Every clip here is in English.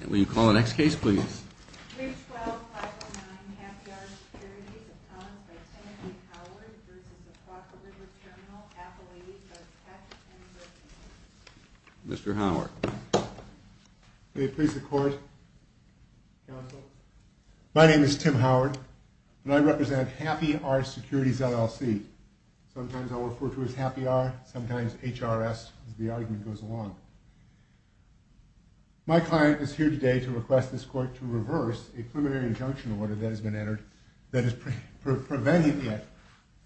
And will you call the next case please? 3-12-509 Happy R Securities Accompanied by Timothy Howard v. Oquawaka River Terminal Appellate v. Patches & Griffin Mr. Howard May it please the Court, Counsel? My name is Tim Howard, and I represent Happy R Securities LLC. Sometimes I'll refer to it as Happy R, sometimes H-R-S, as the argument goes along. My client is here today to request this Court to reverse a preliminary injunction order that has been entered that is preventing it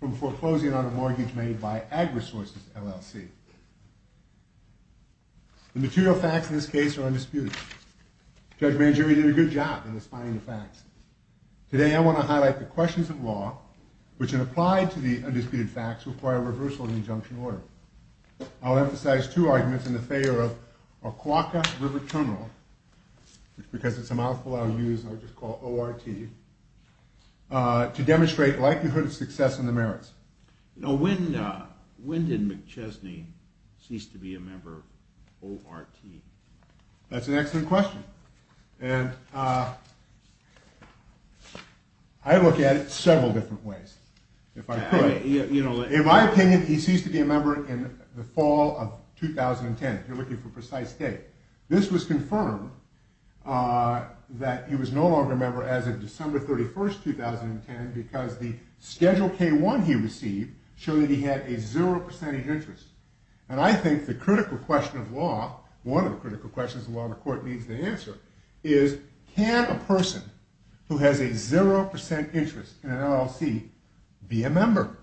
from foreclosing on a mortgage made by AgResources LLC. The material facts in this case are undisputed. Judge Mangieri did a good job in defining the facts. Today I want to highlight the questions of law, which in applied to the undisputed facts, require reversal of the injunction order. I'll emphasize two arguments in the favor of Oquawaka River Terminal, because it's a mouthful I'll use, I'll just call it O-R-T, to demonstrate likelihood of success in the merits. Now when did McChesney cease to be a member of O-R-T? That's an excellent question. And I look at it several different ways, if I could. In my opinion, he ceased to be a member in the fall of 2010, if you're looking for a precise date. This was confirmed that he was no longer a member as of December 31, 2010, because the Schedule K-1 he received showed that he had a zero percentage interest. And I think the critical question of law, one of the critical questions of law the Court needs to answer, is can a person who has a zero percent interest in an LLC be a member?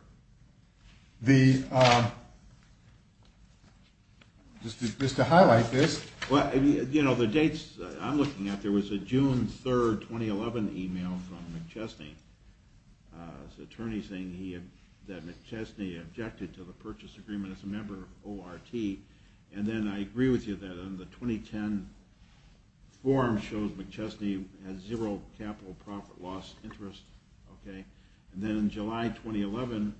Just to highlight this, the dates I'm looking at, there was a June 3, 2011 email from McChesney, an attorney saying that McChesney objected to the purchase agreement as a member of O-R-T, and then I agree with you that in the 2010 form shows McChesney has zero capital profit loss interest. And then in July 2011,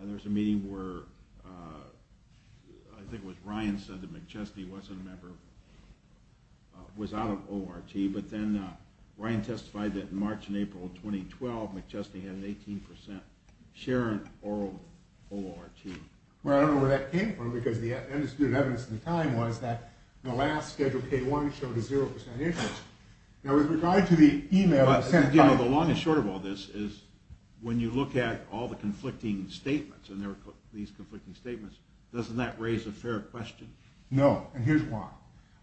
there was a meeting where I think it was Ryan said that McChesney was out of O-R-T, but then Ryan testified that in March and April 2012, McChesney had an 18% share in O-R-T. Well, I don't know where that came from, because the evidence at the time was that the last Schedule K-1 showed a zero percent interest. Now, with regard to the email sent by... The long and short of all this is when you look at all the conflicting statements, and there were these conflicting statements, doesn't that raise a fair question? No, and here's why.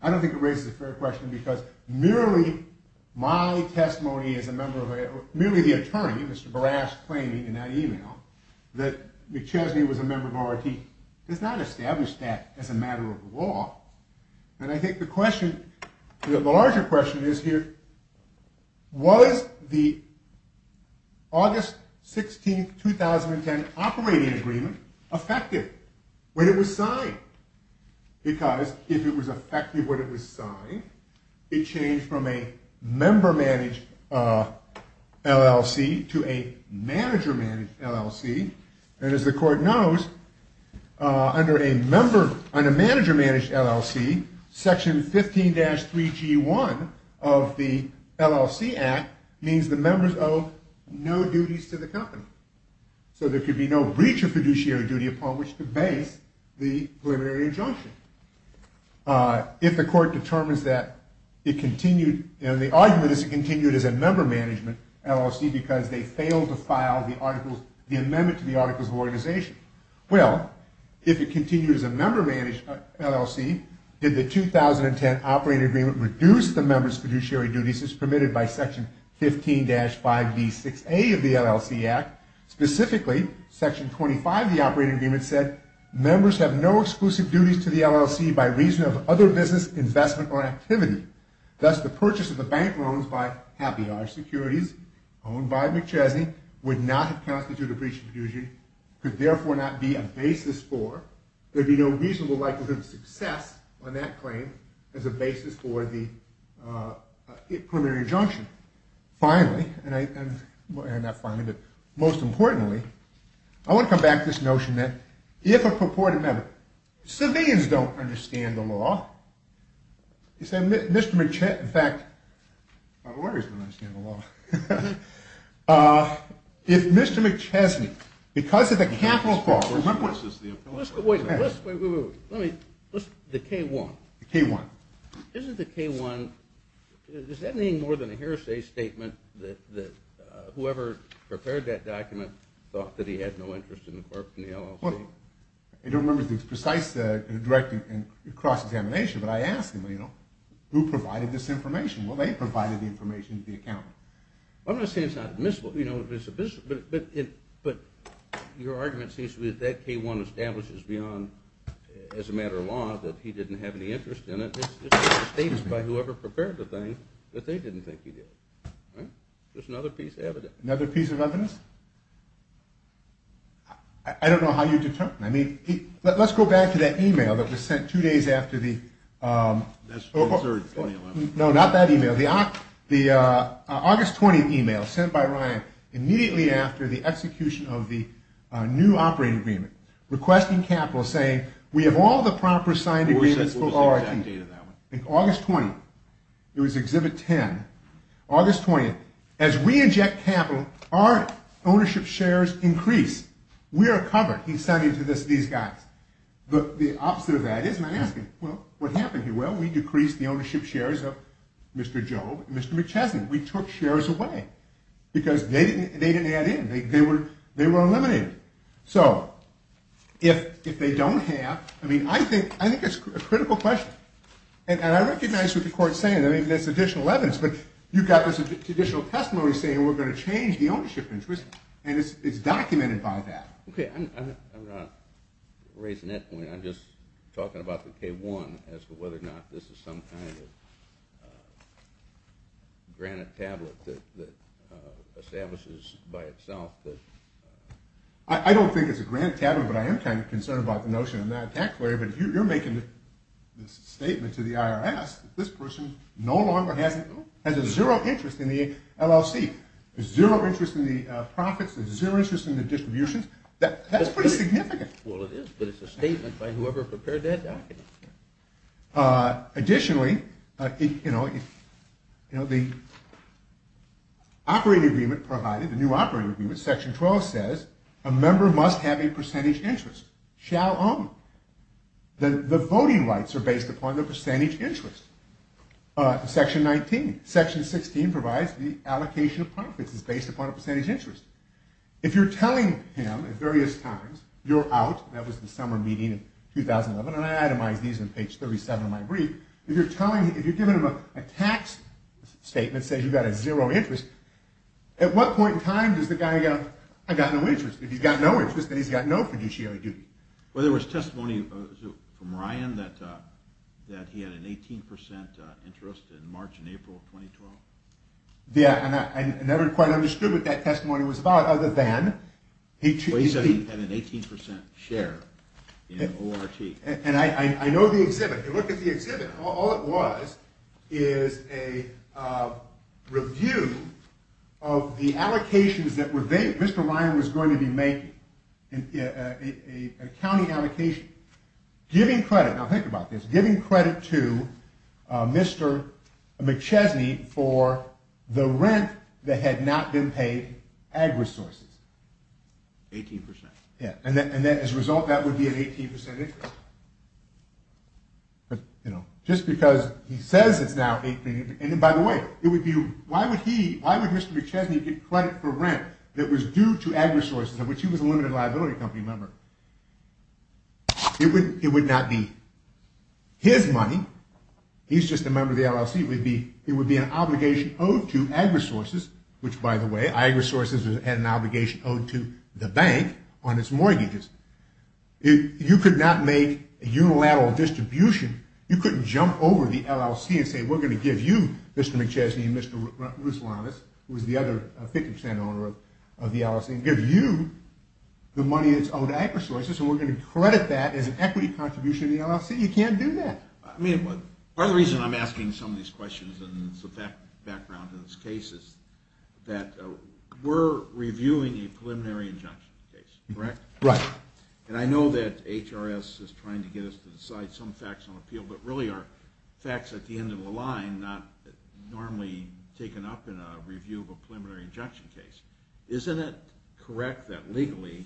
I don't think it raises a fair question, because merely my testimony as a member of O-R-T, merely the attorney, Mr. Barras, claiming in that email that McChesney was a member of O-R-T, does not establish that as a matter of law. And I think the question, the larger question is here, was the August 16, 2010 operating agreement effective when it was signed? Because if it was effective when it was signed, it changed from a member-managed LLC to a manager-managed LLC, and as the Court knows, under a manager-managed LLC, Section 15-3G1 of the LLC Act means the members owe no duties to the company. So there could be no breach of fiduciary duty upon which to base the preliminary injunction. If the Court determines that it continued, and the argument is it continued as a member-managed LLC because they failed to file the amendment to the Articles of Organization. Well, if it continued as a member-managed LLC, did the 2010 operating agreement reduce the members' fiduciary duties as permitted by Section 15-5B6A of the LLC Act, specifically Section 25 of the operating agreement said, members have no exclusive duties to the LLC by reason of other business, investment, or activity. Thus, the purchase of the bank loans by Habillard Securities, owned by McChesney, would not have constituted a breach of fiduciary, could therefore not be a basis for, there'd be no reasonable likelihood of success on that claim as a basis for the preliminary injunction. Finally, and not finally, but most importantly, I want to come back to this notion that if a purported member, civilians don't understand the law, you say Mr. McChesney, in fact, our lawyers don't understand the law. If Mr. McChesney, because of the capital fault. Wait, wait, wait, let me, the K-1. The K-1. Isn't the K-1, does that mean more than a hearsay statement that whoever prepared that document thought that he had no interest in the corporation, the LLC? Well, I don't remember the precise directing and cross-examination, but I asked him, you know, who provided this information? Well, they provided the information to the accountant. I'm not saying it's not admissible, you know, but your argument seems to be that that K-1 establishes beyond, as a matter of law, that he didn't have any interest in it. It's just a statement by whoever prepared the thing that they didn't think he did. Right? There's another piece of evidence. Another piece of evidence? I don't know how you determine. I mean, let's go back to that e-mail that was sent two days after the, no, not that e-mail. The August 20th e-mail sent by Ryan immediately after the execution of the new operating agreement, requesting capital, saying, we have all the proper signed agreements for ORT. August 20th. It was Exhibit 10. August 20th. As we inject capital, our ownership shares increase. We are covered. He's sending to these guys. The opposite of that is, and I ask him, well, what happened here? Well, we decreased the ownership shares of Mr. Jobe and Mr. McChesson. We took shares away because they didn't add in. They were eliminated. So if they don't have, I mean, I think it's a critical question. And I recognize what the court's saying. I mean, there's additional evidence. But you've got this additional testimony saying we're going to change the ownership interest, and it's documented by that. Okay. I'm not raising that point. I'm just talking about the K-1 as to whether or not this is some kind of granite tablet that establishes by itself that. I don't think it's a granite tablet, but I am kind of concerned about the notion of non-tax-query. But you're making this statement to the IRS that this person no longer has a zero interest in the LLC, zero interest in the profits, zero interest in the distributions. That's pretty significant. Well, it is, but it's a statement by whoever prepared that document. Additionally, you know, the operating agreement provided, the new operating agreement, Section 12 says a member must have a percentage interest, shall own. The voting rights are based upon the percentage interest. Section 19. Section 16 provides the allocation of profits is based upon a percentage interest. If you're telling him at various times, you're out. That was the summer meeting in 2011, and I itemized these on page 37 of my brief. If you're telling him, if you're giving him a tax statement that says you've got a zero interest, at what point in time does the guy go, I've got no interest? If he's got no interest, then he's got no fiduciary duty. Well, there was testimony from Ryan that he had an 18% interest in March and April of 2012. Yeah, and I never quite understood what that testimony was about, other than he. He said he had an 18% share in ORT. And I know the exhibit. I looked at the exhibit. All it was is a review of the allocations that Mr. Ryan was going to be making, an accounting allocation, giving credit. Now, think about this. Giving credit to Mr. McChesney for the rent that had not been paid, ag resources. 18%. Yeah. And as a result, that would be an 18% interest. Just because he says it's now 18%. And by the way, why would he, why would Mr. McChesney get credit for rent that was due to ag resources, of which he was a limited liability company member? It would not be his money. He's just a member of the LLC. It would be an obligation owed to ag resources, which by the way, ag resources had an obligation owed to the bank on its mortgages. You could not make a unilateral distribution. You couldn't jump over the LLC and say, we're going to give you, Mr. McChesney and Mr. Ruslanis, who is the other 50% owner of the LLC, and give you the money that's owed to ag resources, and we're going to credit that as an equity contribution to the LLC. You can't do that. I mean, part of the reason I'm asking some of these questions and some background to this case is that we're reviewing a preliminary injunction case, correct? Right. And I know that HRS is trying to get us to decide some facts on appeal, but really are facts at the end of the line, not normally taken up in a review of a preliminary injunction case. Isn't it correct that legally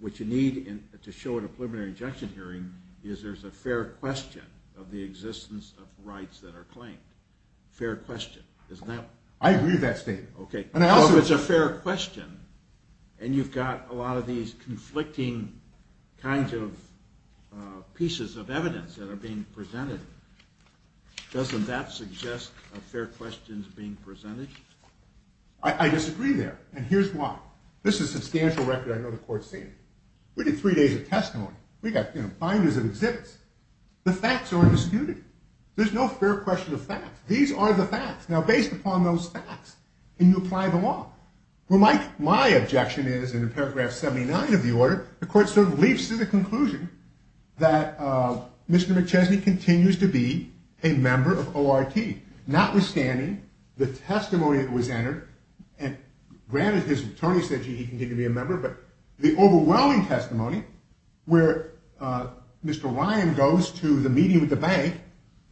what you need to show at a preliminary injunction hearing is there's a fair question of the existence of rights that are claimed? Fair question, isn't that? I agree with that statement. Okay. Well, if it's a fair question, and you've got a lot of these conflicting kinds of pieces of evidence that are being presented, doesn't that suggest a fair question is being presented? I disagree there, and here's why. This is a substantial record. I know the court's seen it. We did three days of testimony. We got binders and exhibits. The facts are undisputed. There's no fair question of facts. These are the facts. Now, based upon those facts, can you apply the law? Well, my objection is, in paragraph 79 of the order, the court sort of leaps to the conclusion that Mr. McChesney continues to be a member of ORT, notwithstanding the testimony that was entered. And granted, his attorney said, gee, he can continue to be a member, but the overwhelming testimony where Mr. Ryan goes to the meeting with the bank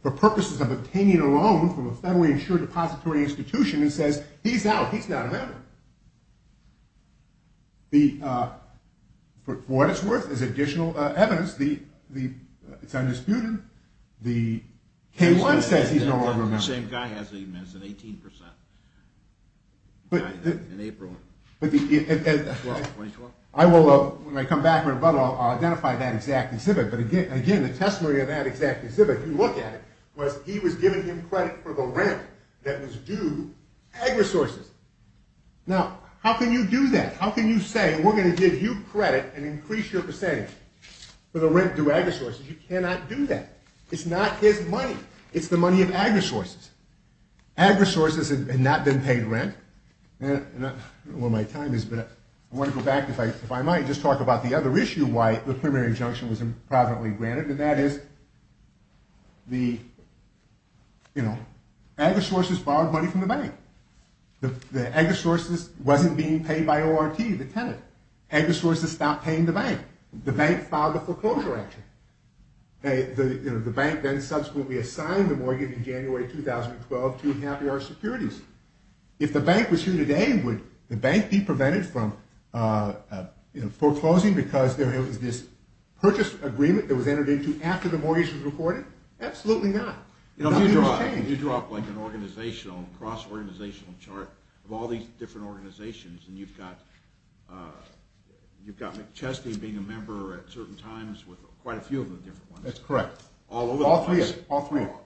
for purposes of obtaining a loan from a federally insured depository institution and says he's out, he's not a member. For what it's worth, there's additional evidence. It's undisputed. The K-1 says he's no longer a member. The same guy has an 18% in April 2012. When I come back, I'll identify that exact exhibit. But again, the testimony of that exact exhibit, if you look at it, was he was giving him credit for the rent that was due agresources. Now, how can you do that? How can you say we're going to give you credit and increase your percentage for the rent due agresources? You cannot do that. It's not his money. It's the money of agresources. Agresources had not been paid rent. I don't know where my time is, but I want to go back, if I might, just talk about the other issue why the preliminary injunction was improperly granted, and that is the agresources borrowed money from the bank. The agresources wasn't being paid by ORT, the tenant. Agresources stopped paying the bank. The bank filed a foreclosure action. The bank then subsequently assigned the mortgage in January 2012 to Happy Hour Securities. If the bank was here today, would the bank be prevented from foreclosing because there was this purchase agreement that was entered into after the mortgage was reported? Absolutely not. Nothing has changed. If you draw up an organizational, cross-organizational chart of all these different organizations, and you've got McChesty being a member at certain times with quite a few of the different ones. That's correct. All over the place. All three of them.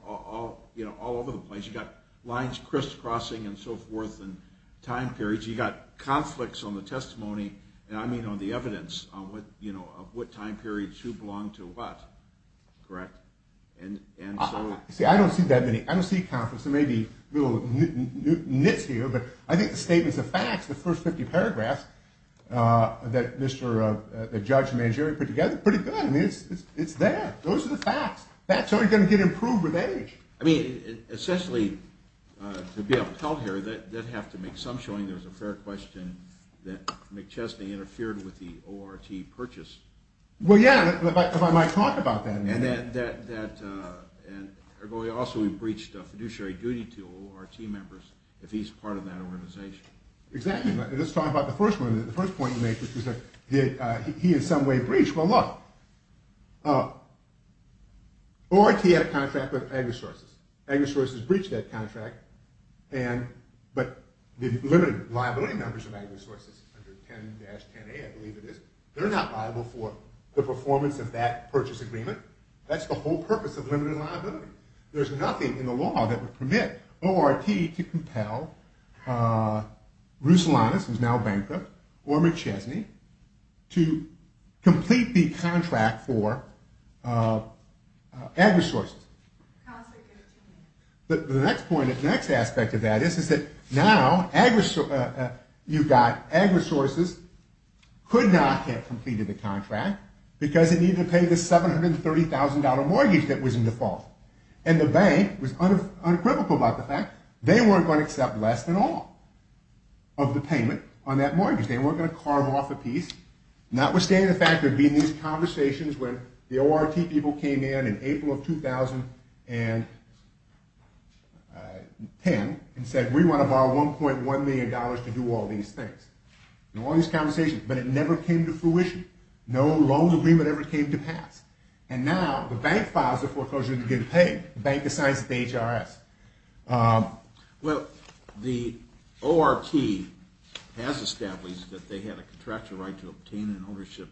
All over the place. You've got lines crisscrossing and so forth and time periods. You've got conflicts on the testimony, and I mean on the evidence, of what time periods who belonged to what. Correct? See, I don't see that many. I don't see conflicts. There may be little nits here, but I think the statements are facts. The first 50 paragraphs that Judge Mangieri put together are pretty good. I mean, it's there. Those are the facts. That's how you're going to get improved with age. I mean, essentially, to be upheld here, that would have to make some showing there was a fair question that McChesty interfered with the ORT purchase. Well, yeah. If I might talk about that. Also, he breached fiduciary duty to ORT members if he's part of that organization. Exactly. Let's talk about the first one. The first point you make, which is did he in some way breach? Well, look, ORT had a contract with AgriSources. AgriSources breached that contract, but the limited liability numbers of AgriSources under 10-10A, I believe it is, they're not liable for the performance of that purchase agreement. That's the whole purpose of limited liability. There's nothing in the law that would permit ORT to compel Ruslanis, who's now bankrupt, or McChesty to complete the contract for AgriSources. The next aspect of that is that now you've got AgriSources could not have completed the contract because it needed to pay the $730,000 mortgage that was in default, and the bank was uncrivical about the fact they weren't going to accept less than all of the payment on that mortgage. They weren't going to carve off a piece, notwithstanding the fact there'd be these conversations when the ORT people came in in April of 2010 and said, we want to borrow $1.1 million to do all these things. All these conversations, but it never came to fruition. No loan agreement ever came to pass. And now the bank files the foreclosure to get it paid. The bank decides it's the HRS. Well, the ORT has established that they had a contractual right to obtain an ownership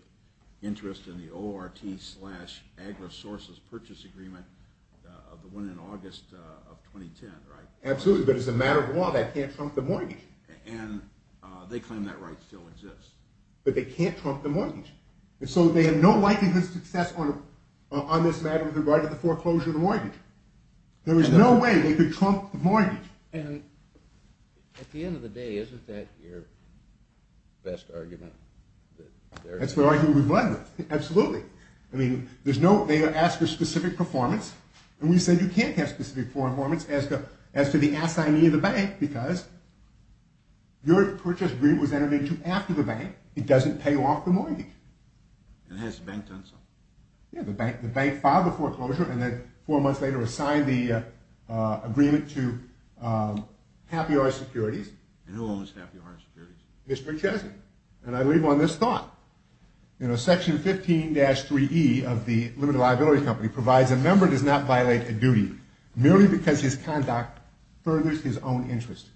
interest in the ORT slash AgriSources purchase agreement, the one in August of 2010, right? Absolutely, but as a matter of law, that can't trump the mortgage. And they claim that right still exists. But they can't trump the mortgage. And so they have no likelihood of success on this matter with regard to the foreclosure of the mortgage. There is no way they could trump the mortgage. And at the end of the day, isn't that your best argument? That's the argument we've run with. Absolutely. I mean, there's no – they ask for specific performance, and we said you can't have specific performance as to the assignee of the bank because your purchase agreement was entered into after the bank. It doesn't pay off the mortgage. And hence, the bank doesn't. Yeah, the bank filed the foreclosure and then four months later assigned the agreement to Happy Hour Securities. And who owns Happy Hour Securities? Mr. Chesney. And I leave on this thought. Section 15-3E of the Limited Liability Company provides a member does not violate a duty merely because his conduct furthers his own interest.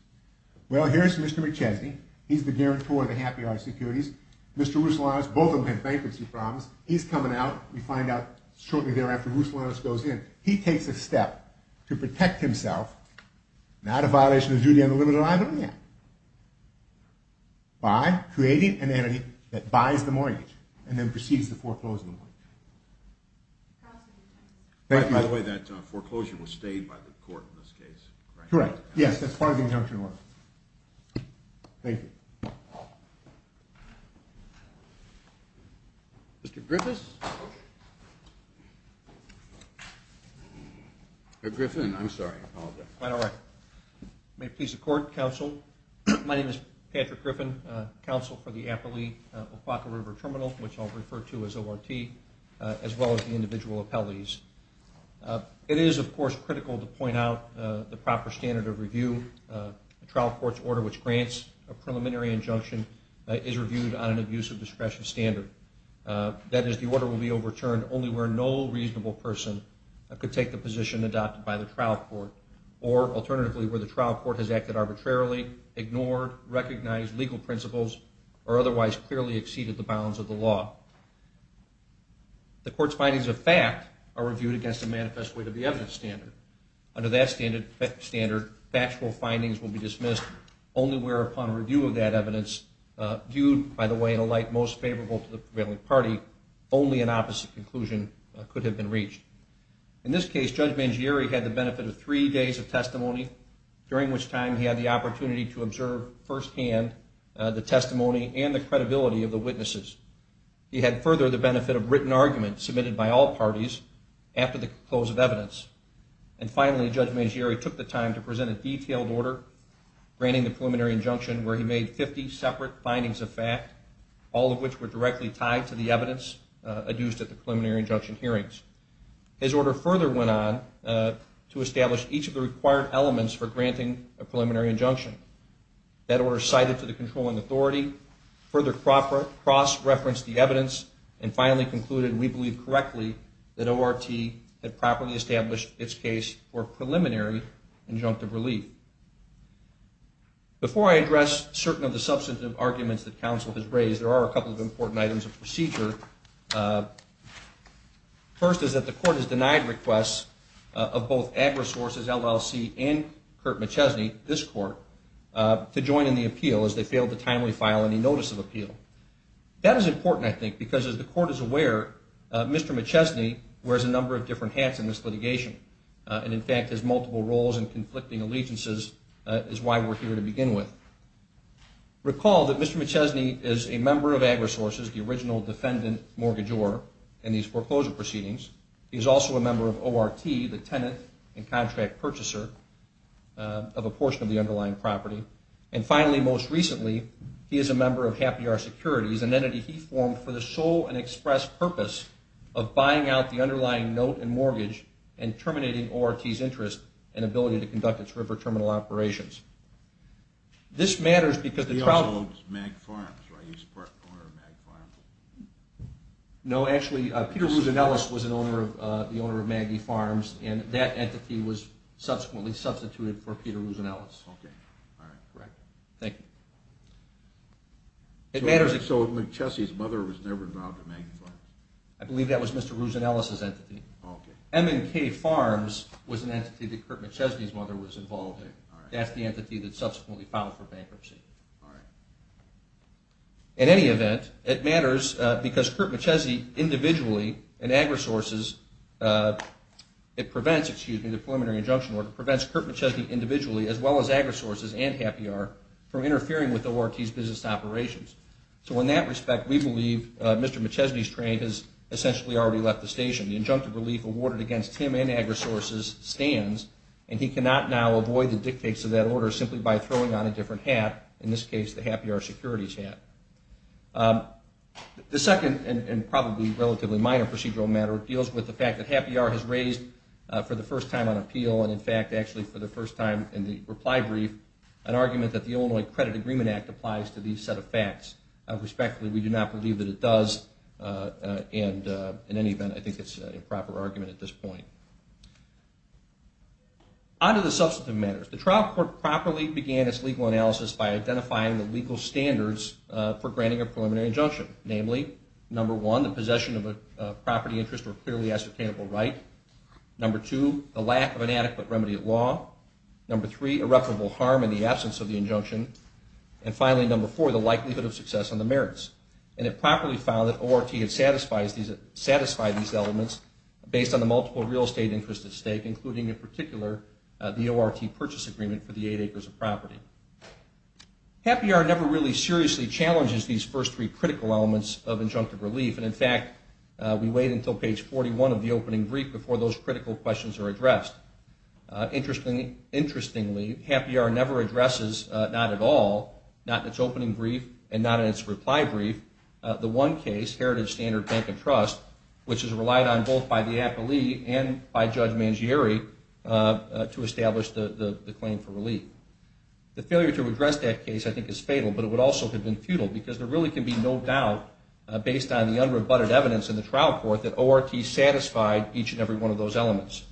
Well, here's Mr. McChesney. He's the guarantor of the Happy Hour Securities. Mr. Ruslanos, both of them have bankruptcy problems. He's coming out. We find out shortly thereafter Ruslanos goes in. He takes a step to protect himself, not a violation of duty on the limited liability, by creating an entity that buys the mortgage and then proceeds to foreclose the mortgage. Thank you. By the way, that foreclosure was stayed by the court in this case, right? Correct, yes. That's part of the injunction order. Thank you. Mr. Griffiths? Griffin, I'm sorry. I apologize. That's all right. May it please the Court, Counsel. My name is Patrick Griffin, Counsel for the Applee-Opaqua River Terminal, which I'll refer to as ORT, as well as the individual appellees. It is, of course, critical to point out the proper standard of review. A trial court's order which grants a preliminary injunction is reviewed on an abuse of discretion standard. That is, the order will be overturned only where no reasonable person could take the position adopted by the trial court or, alternatively, where the trial court has acted arbitrarily, ignored, recognized legal principles, or otherwise clearly exceeded the bounds of the law. The court's findings of fact are reviewed against the manifest weight of the evidence standard. Under that standard, factual findings will be dismissed only where, upon review of that evidence, viewed, by the way, in a light most favorable to the prevailing party, only an opposite conclusion could have been reached. In this case, Judge Mangieri had the benefit of three days of testimony, during which time he had the opportunity to observe firsthand the testimony and the credibility of the witnesses. He had further the benefit of written arguments submitted by all parties after the close of evidence. And finally, Judge Mangieri took the time to present a detailed order granting the preliminary injunction where he made 50 separate findings of fact, all of which were directly tied to the evidence adduced at the preliminary injunction hearings. His order further went on to establish each of the required elements for granting a preliminary injunction. That order cited to the controlling authority, further cross-referenced the evidence, and finally concluded, we believe correctly, that ORT had properly established its case for preliminary injunctive relief. Before I address certain of the substantive arguments that counsel has raised, there are a couple of important items of procedure. First is that the court has denied requests of both AGRA sources, LLC and Curt McChesney, this court, to join in the appeal as they failed to timely file any notice of appeal. That is important, I think, because as the court is aware, Mr. McChesney wears a number of different hats in this litigation, and in fact has multiple roles in conflicting allegiances, is why we're here to begin with. Recall that Mr. McChesney is a member of AGRA sources, the original defendant mortgagor in these foreclosure proceedings. He is also a member of ORT, the tenant and contract purchaser of a portion of the underlying property. And finally, most recently, he is a member of Happy Hour Securities, an entity he formed for the sole and express purpose of buying out the underlying note and mortgage and terminating ORT's interest and ability to conduct its river terminal operations. He also owns MAG Farms, right? He's part owner of MAG Farms? No, actually, Peter Ruzanellis was the owner of MAG Farms, and that entity was subsequently substituted for Peter Ruzanellis. Okay, all right. Thank you. So McChesney's mother was never involved in MAG Farms? I believe that was Mr. Ruzanellis's entity. M&K Farms was an entity that Curt McChesney's mother was involved in. That's the entity that subsequently filed for bankruptcy. All right. In any event, it matters because Curt McChesney individually and AgriSources, it prevents, excuse me, the preliminary injunction order prevents Curt McChesney individually as well as AgriSources and Happy Hour from interfering with ORT's business operations. So in that respect, we believe Mr. McChesney's trade has essentially already left the station. The injunctive relief awarded against him and AgriSources stands, and he cannot now avoid the dictates of that order simply by throwing on a different hat, in this case the Happy Hour securities hat. The second, and probably relatively minor procedural matter, deals with the fact that Happy Hour has raised for the first time on appeal, and in fact actually for the first time in the reply brief, an argument that the Illinois Credit Agreement Act applies to these set of facts. Respectfully, we do not believe that it does, and in any event, I think it's an improper argument at this point. On to the substantive matters. The trial court properly began its legal analysis by identifying the legal standards for granting a preliminary injunction. Namely, number one, the possession of a property interest or clearly ascertainable right. Number two, the lack of an adequate remedy at law. Number three, irreparable harm in the absence of the injunction. And finally, number four, the likelihood of success on the merits. And it properly found that ORT had satisfied these elements based on the multiple real estate interests at stake, including in particular the ORT purchase agreement for the eight acres of property. Happy Hour never really seriously challenges these first three critical elements of injunctive relief, and in fact, we wait until page 41 of the opening brief before those critical questions are addressed. Interestingly, Happy Hour never addresses, not at all, not in its opening brief and not in its reply brief, the one case, Heritage Standard Bank and Trust, which is relied on both by the appellee and by Judge Mangieri to establish the claim for relief. The failure to address that case I think is fatal, but it would also have been futile because there really can be no doubt, based on the unrebutted evidence in the trial court, that ORT satisfied each and every one of those elements.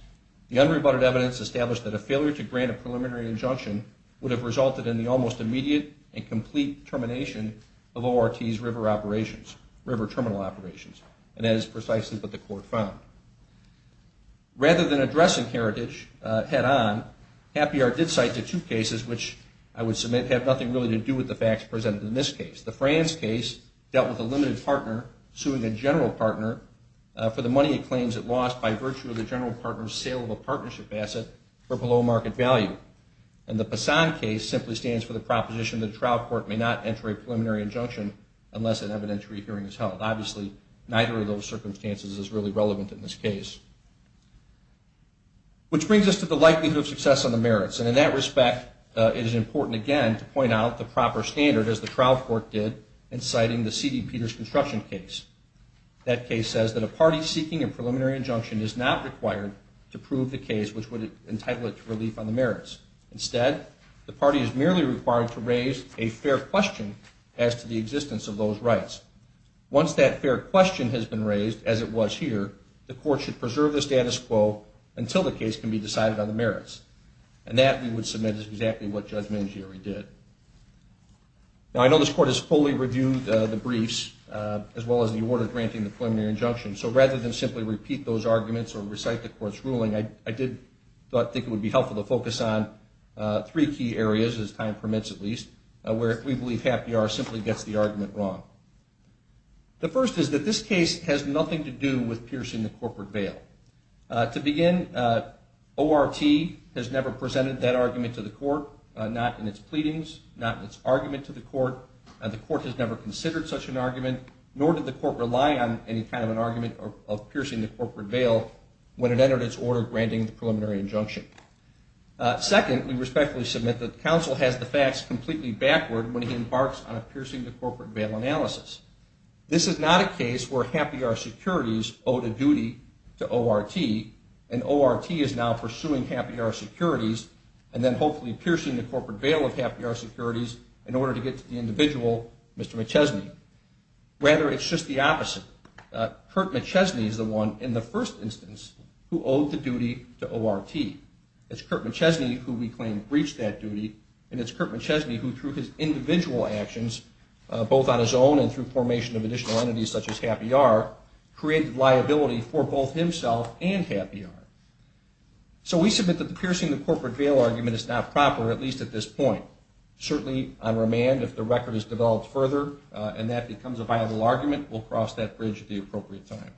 The unrebutted evidence established that a failure to grant a preliminary injunction would have resulted in the almost immediate and complete termination of ORT's river operations, river terminal operations, and that is precisely what the court found. Rather than addressing Heritage head-on, Happy Hour did cite the two cases which I would submit have nothing really to do with the facts presented in this case. The France case dealt with a limited partner suing a general partner for the money it claims it lost by virtue of the general partner's sale of a partnership asset for below market value. And the Passan case simply stands for the proposition that a trial court may not enter a preliminary injunction unless an evidentiary hearing is held. Obviously, neither of those circumstances is really relevant in this case. Which brings us to the likelihood of success on the merits, and in that respect, it is important again to point out the proper standard, as the trial court did, in citing the C.D. Peters construction case. That case says that a party seeking a preliminary injunction is not required to prove the case, which would entitle it to relief on the merits. Instead, the party is merely required to raise a fair question as to the existence of those rights. Once that fair question has been raised, as it was here, the court should preserve the status quo until the case can be decided on the merits. And that, we would submit, is exactly what Judge Mangieri did. Now, I know this court has fully reviewed the briefs, as well as the order granting the preliminary injunction, so rather than simply repeat those arguments or recite the court's ruling, I did think it would be helpful to focus on three key areas, as time permits at least, where we believe happy hour simply gets the argument wrong. The first is that this case has nothing to do with piercing the corporate veil. To begin, ORT has never presented that argument to the court, not in its pleadings, not in its argument to the court, and the court has never considered such an argument, nor did the court rely on any kind of an argument of piercing the corporate veil when it entered its order granting the preliminary injunction. Second, we respectfully submit that counsel has the facts completely backward when he embarks on a piercing the corporate veil analysis. This is not a case where happy hour securities owed a duty to ORT, and ORT is now pursuing happy hour securities and then hopefully piercing the corporate veil of happy hour securities in order to get to the individual, Mr. McChesney. Rather, it's just the opposite. Kurt McChesney is the one, in the first instance, who owed the duty to ORT. It's Kurt McChesney who we claim breached that duty, and it's Kurt McChesney who, through his individual actions, both on his own and through formation of additional entities such as happy hour, created liability for both himself and happy hour. So we submit that the piercing the corporate veil argument is not proper, at least at this point. Certainly, on remand, if the record is developed further and that becomes a viable argument, we'll cross that bridge at the appropriate time.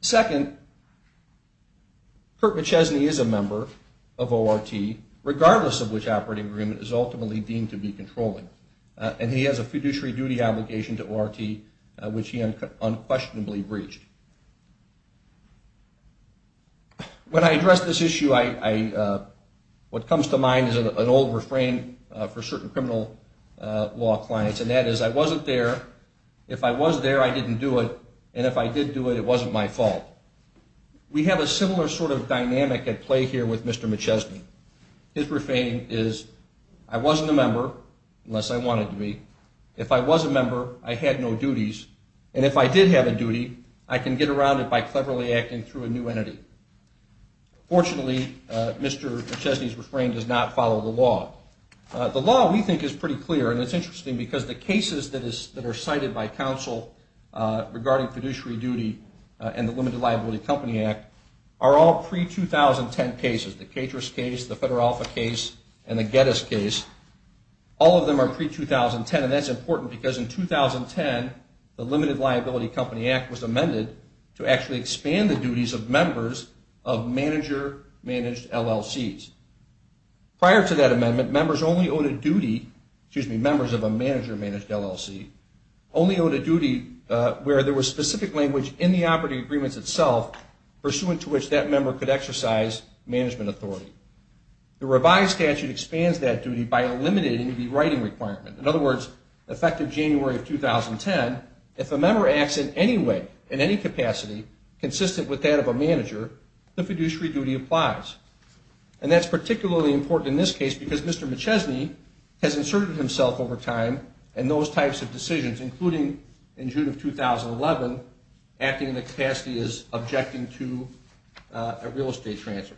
Second, Kurt McChesney is a member of ORT, regardless of which operating agreement is ultimately deemed to be controlling, and he has a fiduciary duty obligation to ORT which he unquestionably breached. When I address this issue, what comes to mind is an old refrain for certain criminal law clients, and that is, I wasn't there. If I was there, I didn't do it, and if I did do it, it wasn't my fault. We have a similar sort of dynamic at play here with Mr. McChesney. His refrain is, I wasn't a member, unless I wanted to be. If I was a member, I had no duties, and if I did have a duty, I can get around it by cleverly acting through a new entity. Fortunately, Mr. McChesney's refrain does not follow the law. The law, we think, is pretty clear, and it's interesting because the cases that are cited by counsel regarding fiduciary duty and the Limited Liability Company Act are all pre-2010 cases, the Catrus case, the Federal Alpha case, and the Geddes case. All of them are pre-2010, and that's important because in 2010, the Limited Liability Company Act was amended to actually expand the duties of members of manager-managed LLCs. Prior to that amendment, members only owed a duty, excuse me, members of a manager-managed LLC, only owed a duty where there was specific language in the operating agreements itself pursuant to which that member could exercise management authority. The revised statute expands that duty by eliminating the writing requirement. In other words, effective January of 2010, if a member acts in any way, in any capacity, consistent with that of a manager, the fiduciary duty applies. And that's particularly important in this case because Mr. McChesney has inserted himself over time in those types of decisions, including in June of 2011, acting in the capacity as objecting to a real estate transfer.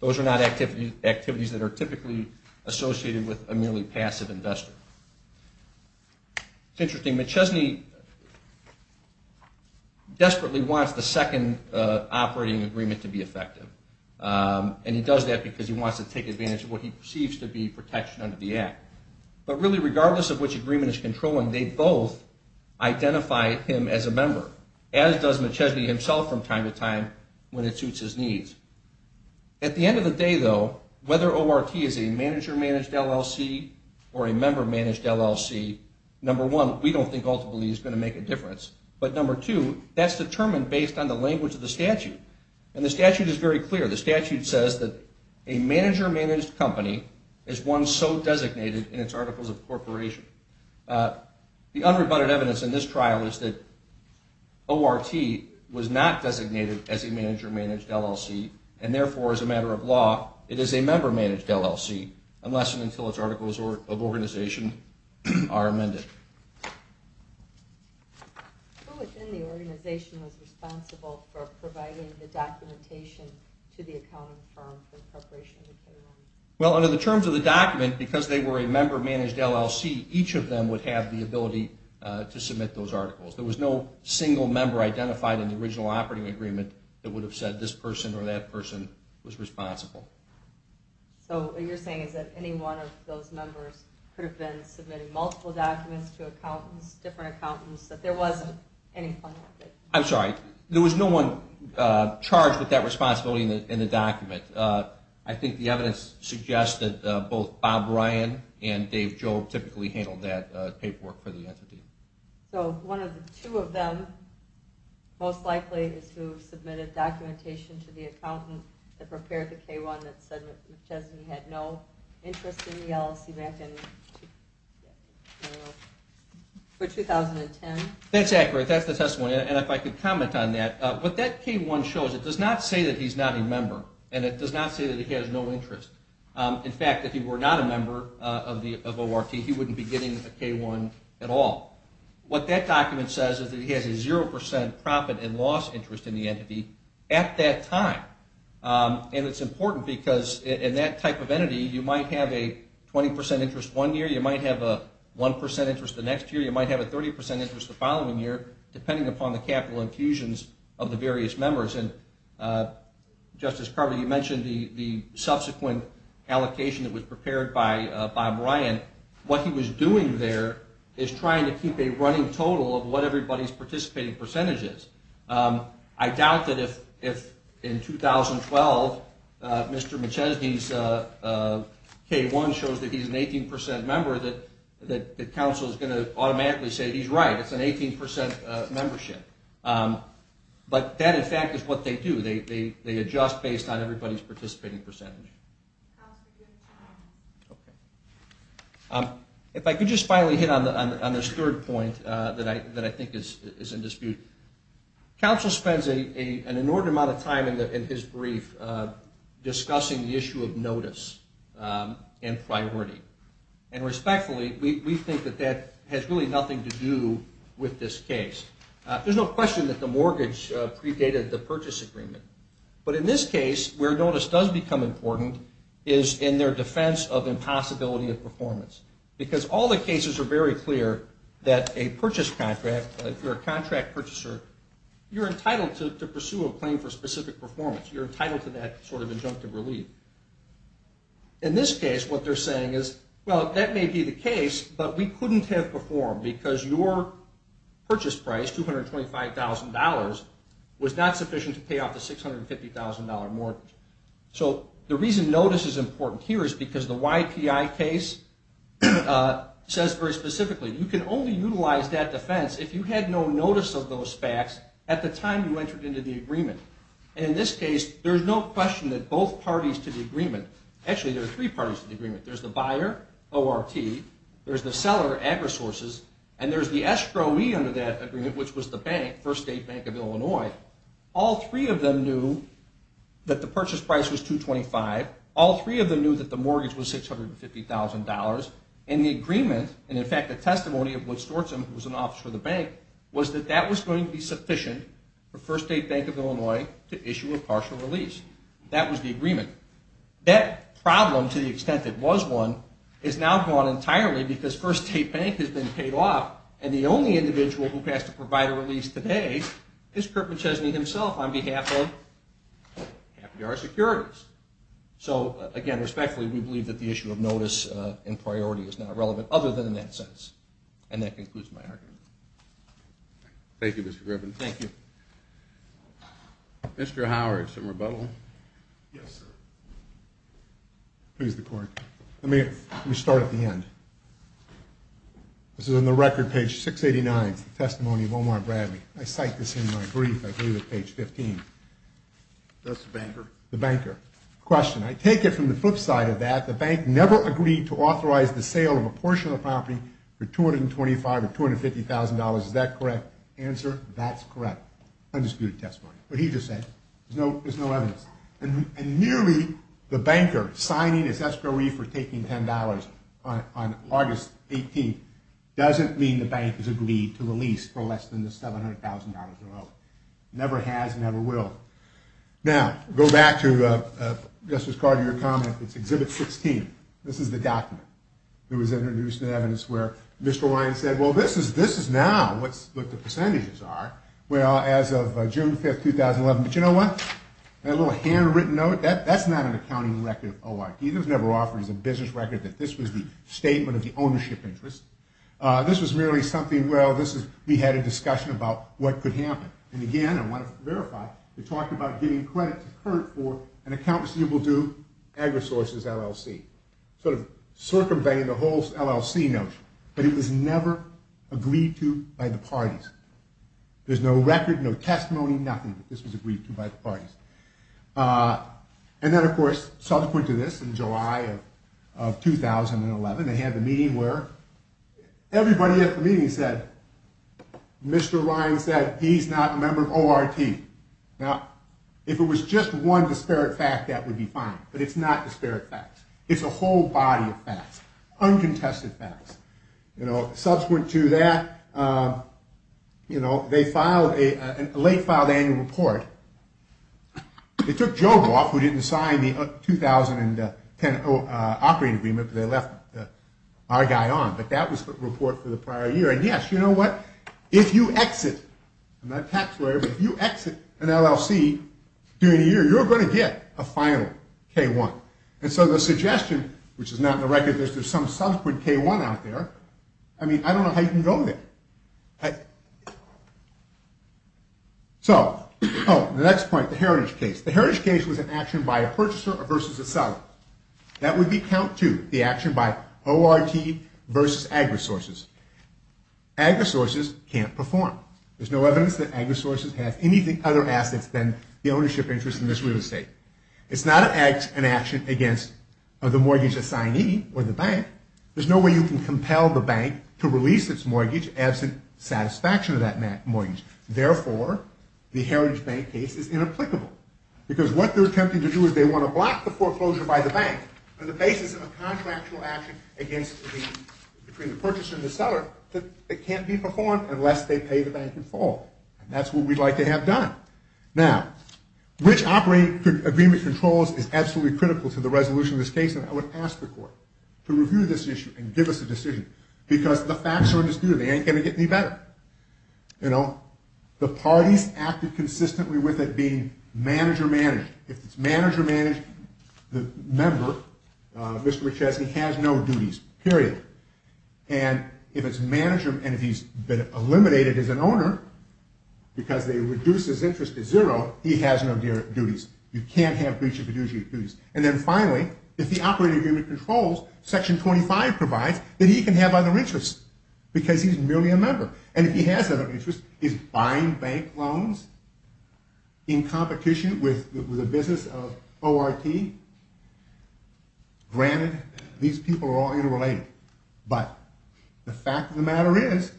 Those are not activities that are typically associated with a merely passive investor. It's interesting, McChesney desperately wants the second operating agreement to be effective, and he does that because he wants to take advantage of what he perceives to be protection under the Act. But really, regardless of which agreement he's controlling, they both identify him as a member, as does McChesney himself from time to time, when it suits his needs. At the end of the day, though, whether ORT is a manager-managed LLC or a member-managed LLC, number one, we don't think ultimately it's going to make a difference. But number two, that's determined based on the language of the statute. And the statute is very clear. The statute says that a manager-managed company is one so designated in its Articles of Corporation. The unrebutted evidence in this trial is that ORT was not designated as a manager-managed LLC, and therefore, as a matter of law, it is a member-managed LLC unless and until its Articles of Organization are amended. Well, under the terms of the document, because they were a member-managed LLC, each of them would have the ability to submit those articles. There was no single member identified in the original operating agreement that would have said this person or that person was responsible. I'm sorry. There was no one charged with that responsibility in the document. I think the evidence suggests that both Bob Ryan and Dave Jobe typically handled that paperwork for the entity. That's accurate. That's the testimony. And if I could comment on that. What that K1 shows, it does not say that he's not a member. And it does not say that he has no interest. In fact, if he were not a member of ORT, he wouldn't be getting a K1 at all. What that document says is that he has a 0% profit and loss interest in the entity at that time. And it's important because in that type of entity, you might have a 20% interest one year. You might have a 1% interest the next year. You might have a 30% interest the following year, depending upon the capital infusions of the various members. Justice Carver, you mentioned the subsequent allocation that was prepared by Bob Ryan. What he was doing there is trying to keep a running total of what everybody's participating percentage is. I doubt that if in 2012, Mr. McChesney's K1 shows that he's an 18% member, that the council is going to automatically say he's right. It's an 18% membership. But that, in fact, is what they do. They adjust based on everybody's participating percentage. If I could just finally hit on this third point that I think is in dispute. Council spends an inordinate amount of time in his brief discussing the issue of notice and priority. And respectfully, we think that that has really nothing to do with this case. There's no question that the mortgage predated the purchase agreement. But in this case, where notice does become important is in their defense of impossibility of performance. Because all the cases are very clear that a purchase contract, if you're a contract purchaser, you're entitled to pursue a claim for specific performance. You're entitled to that sort of injunctive relief. In this case, what they're saying is, well, that may be the case, but we couldn't have performed because your purchase price, $225,000, was not sufficient to pay off the $650,000 mortgage. So the reason notice is important here is because the YPI case says very specifically, you can only utilize that defense if you had no notice of those facts at the time you entered into the agreement. And in this case, there's no question that both parties to the agreement, actually there are three parties to the agreement. There's the buyer, ORT. There's the seller, Agrisources. And there's the estroee under that agreement, which was the bank, First State Bank of Illinois. All three of them knew that the purchase price was $225,000. All three of them knew that the mortgage was $650,000. And the agreement, and in fact the testimony of Wood Stortson, who was an officer of the bank, was that that was going to be sufficient for First State Bank of Illinois to issue a partial release. That was the agreement. That problem, to the extent it was one, is now gone entirely because First State Bank has been paid off and the only individual who has to provide a release today is Kurt McChesney himself on behalf of our securities. So again, respectfully, we believe that the issue of notice and priority is not relevant other than in that sense. And that concludes my argument. Thank you, Mr. Griffin. Thank you. Mr. Howard, some rebuttal. Yes, sir. Please, the court. Let me start at the end. This is on the record, page 689, the testimony of Omar Bradley. I cite this in my brief. I believe it's page 15. That's the banker. The banker. Question. I take it from the flip side of that, the bank never agreed to authorize the sale of a portion of the property for $225,000 or $250,000. Is that correct? Answer, that's correct. Undisputed testimony. What he just said. There's no evidence. And merely the banker signing his escrow wreath for taking $10 on August 18th doesn't mean the bank has agreed to release for less than the $700,000 or so. Never has and never will. Now, go back to Justice Carter, your comment. It's exhibit 16. This is the document. It was introduced in evidence where Mr. Ryan said, well, this is now what the percentages are. Well, as of June 5th, 2011. But you know what? That little handwritten note, that's not an accounting record of ORD. It was never offered as a business record that this was the statement of the ownership interest. This was merely something, well, this is, we had a discussion about what could happen. And, again, I want to verify, you're talking about giving credit to Kurt for an account receivable due, agri-sources LLC. Sort of circumventing the whole LLC notion. But it was never agreed to by the parties. There's no record, no testimony, nothing. This was agreed to by the parties. And then, of course, subsequent to this, in July of 2011, they had the meeting where everybody at the meeting said, Mr. Ryan said he's not a member of ORT. Now, if it was just one disparate fact, that would be fine. But it's not disparate facts. It's a whole body of facts, uncontested facts. Subsequent to that, they filed a late filed annual report. It took Joe off, who didn't sign the 2010 operating agreement, but they left our guy on. But that was the report for the prior year. And, yes, you know what? If you exit, I'm not a tax lawyer, but if you exit an LLC during the year, you're going to get a final K-1. And so the suggestion, which is not in the record, there's some subsequent K-1 out there. I mean, I don't know how you can go there. So, oh, the next point, the heritage case. The heritage case was an action by a purchaser versus a seller. That would be count two, the action by ORT versus AgriSources. AgriSources can't perform. There's no evidence that AgriSources has anything other assets than the ownership interest in this real estate. It's not an action against the mortgage assignee or the bank. There's no way you can compel the bank to release its mortgage absent satisfaction of that mortgage. Therefore, the heritage bank case is inapplicable. Because what they're attempting to do is they want to block the foreclosure by the bank on the basis of a contractual action between the purchaser and the seller that can't be performed unless they pay the bank in full. And that's what we'd like to have done. Now, which operating agreement controls is absolutely critical to the resolution of this case, and I would ask the court to review this issue and give us a decision because the facts are undisputed. They ain't going to get any better. You know, the parties acted consistently with it being manager-managed. If it's manager-managed, the member, Mr. McCheskey, has no duties, period. And if it's manager, and if he's been eliminated as an owner because they reduce his interest to zero, he has no duties. You can't have breach of a duty. And then finally, if the operating agreement controls, Section 25 provides, then he can have other interests because he's merely a member. And if he has other interests, he's buying bank loans in competition with the business of ORT. Granted, these people are all interrelated, but the fact of the matter is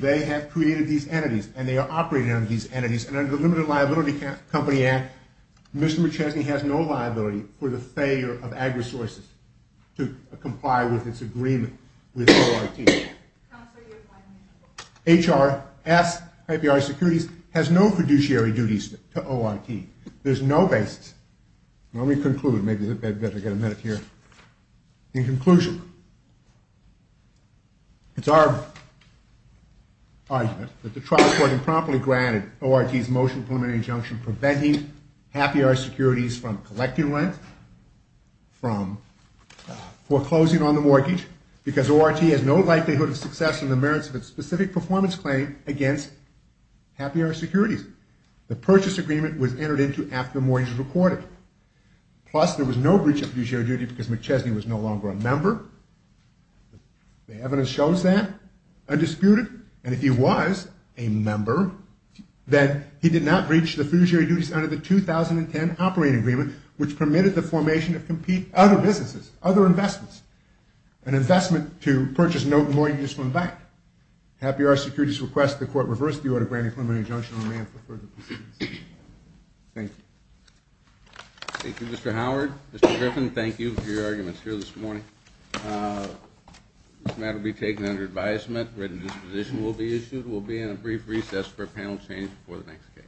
they have created these entities and they are operating under these entities, and under the Limited Liability Company Act, Mr. McCheskey has no liability for the failure of AgriSources to comply with its agreement with ORT. HRS, FBI Securities, has no fiduciary duties to ORT. There's no basis. Let me conclude. Maybe I'd better get a minute here. In conclusion, it's our argument that the trial court improperly granted ORT's motion preliminary injunction preventing Happy Hour Securities from collecting rent, from foreclosing on the mortgage, because ORT has no likelihood of success in the merits of its specific performance claim against Happy Hour Securities. The purchase agreement was entered into after the mortgage was recorded. Plus, there was no breach of fiduciary duty because McCheskey was no longer a member. The evidence shows that, undisputed. And if he was a member, then he did not breach the fiduciary duties under the 2010 operating agreement, which permitted the formation of other businesses, other investments, Happy Hour Securities requests the court reverse the order to grant a preliminary injunction. I may have further proceedings. Thank you. Thank you, Mr. Howard. Mr. Griffin, thank you for your arguments here this morning. This matter will be taken under advisement. A written disposition will be issued. We'll be in a brief recess for a panel change before the next case.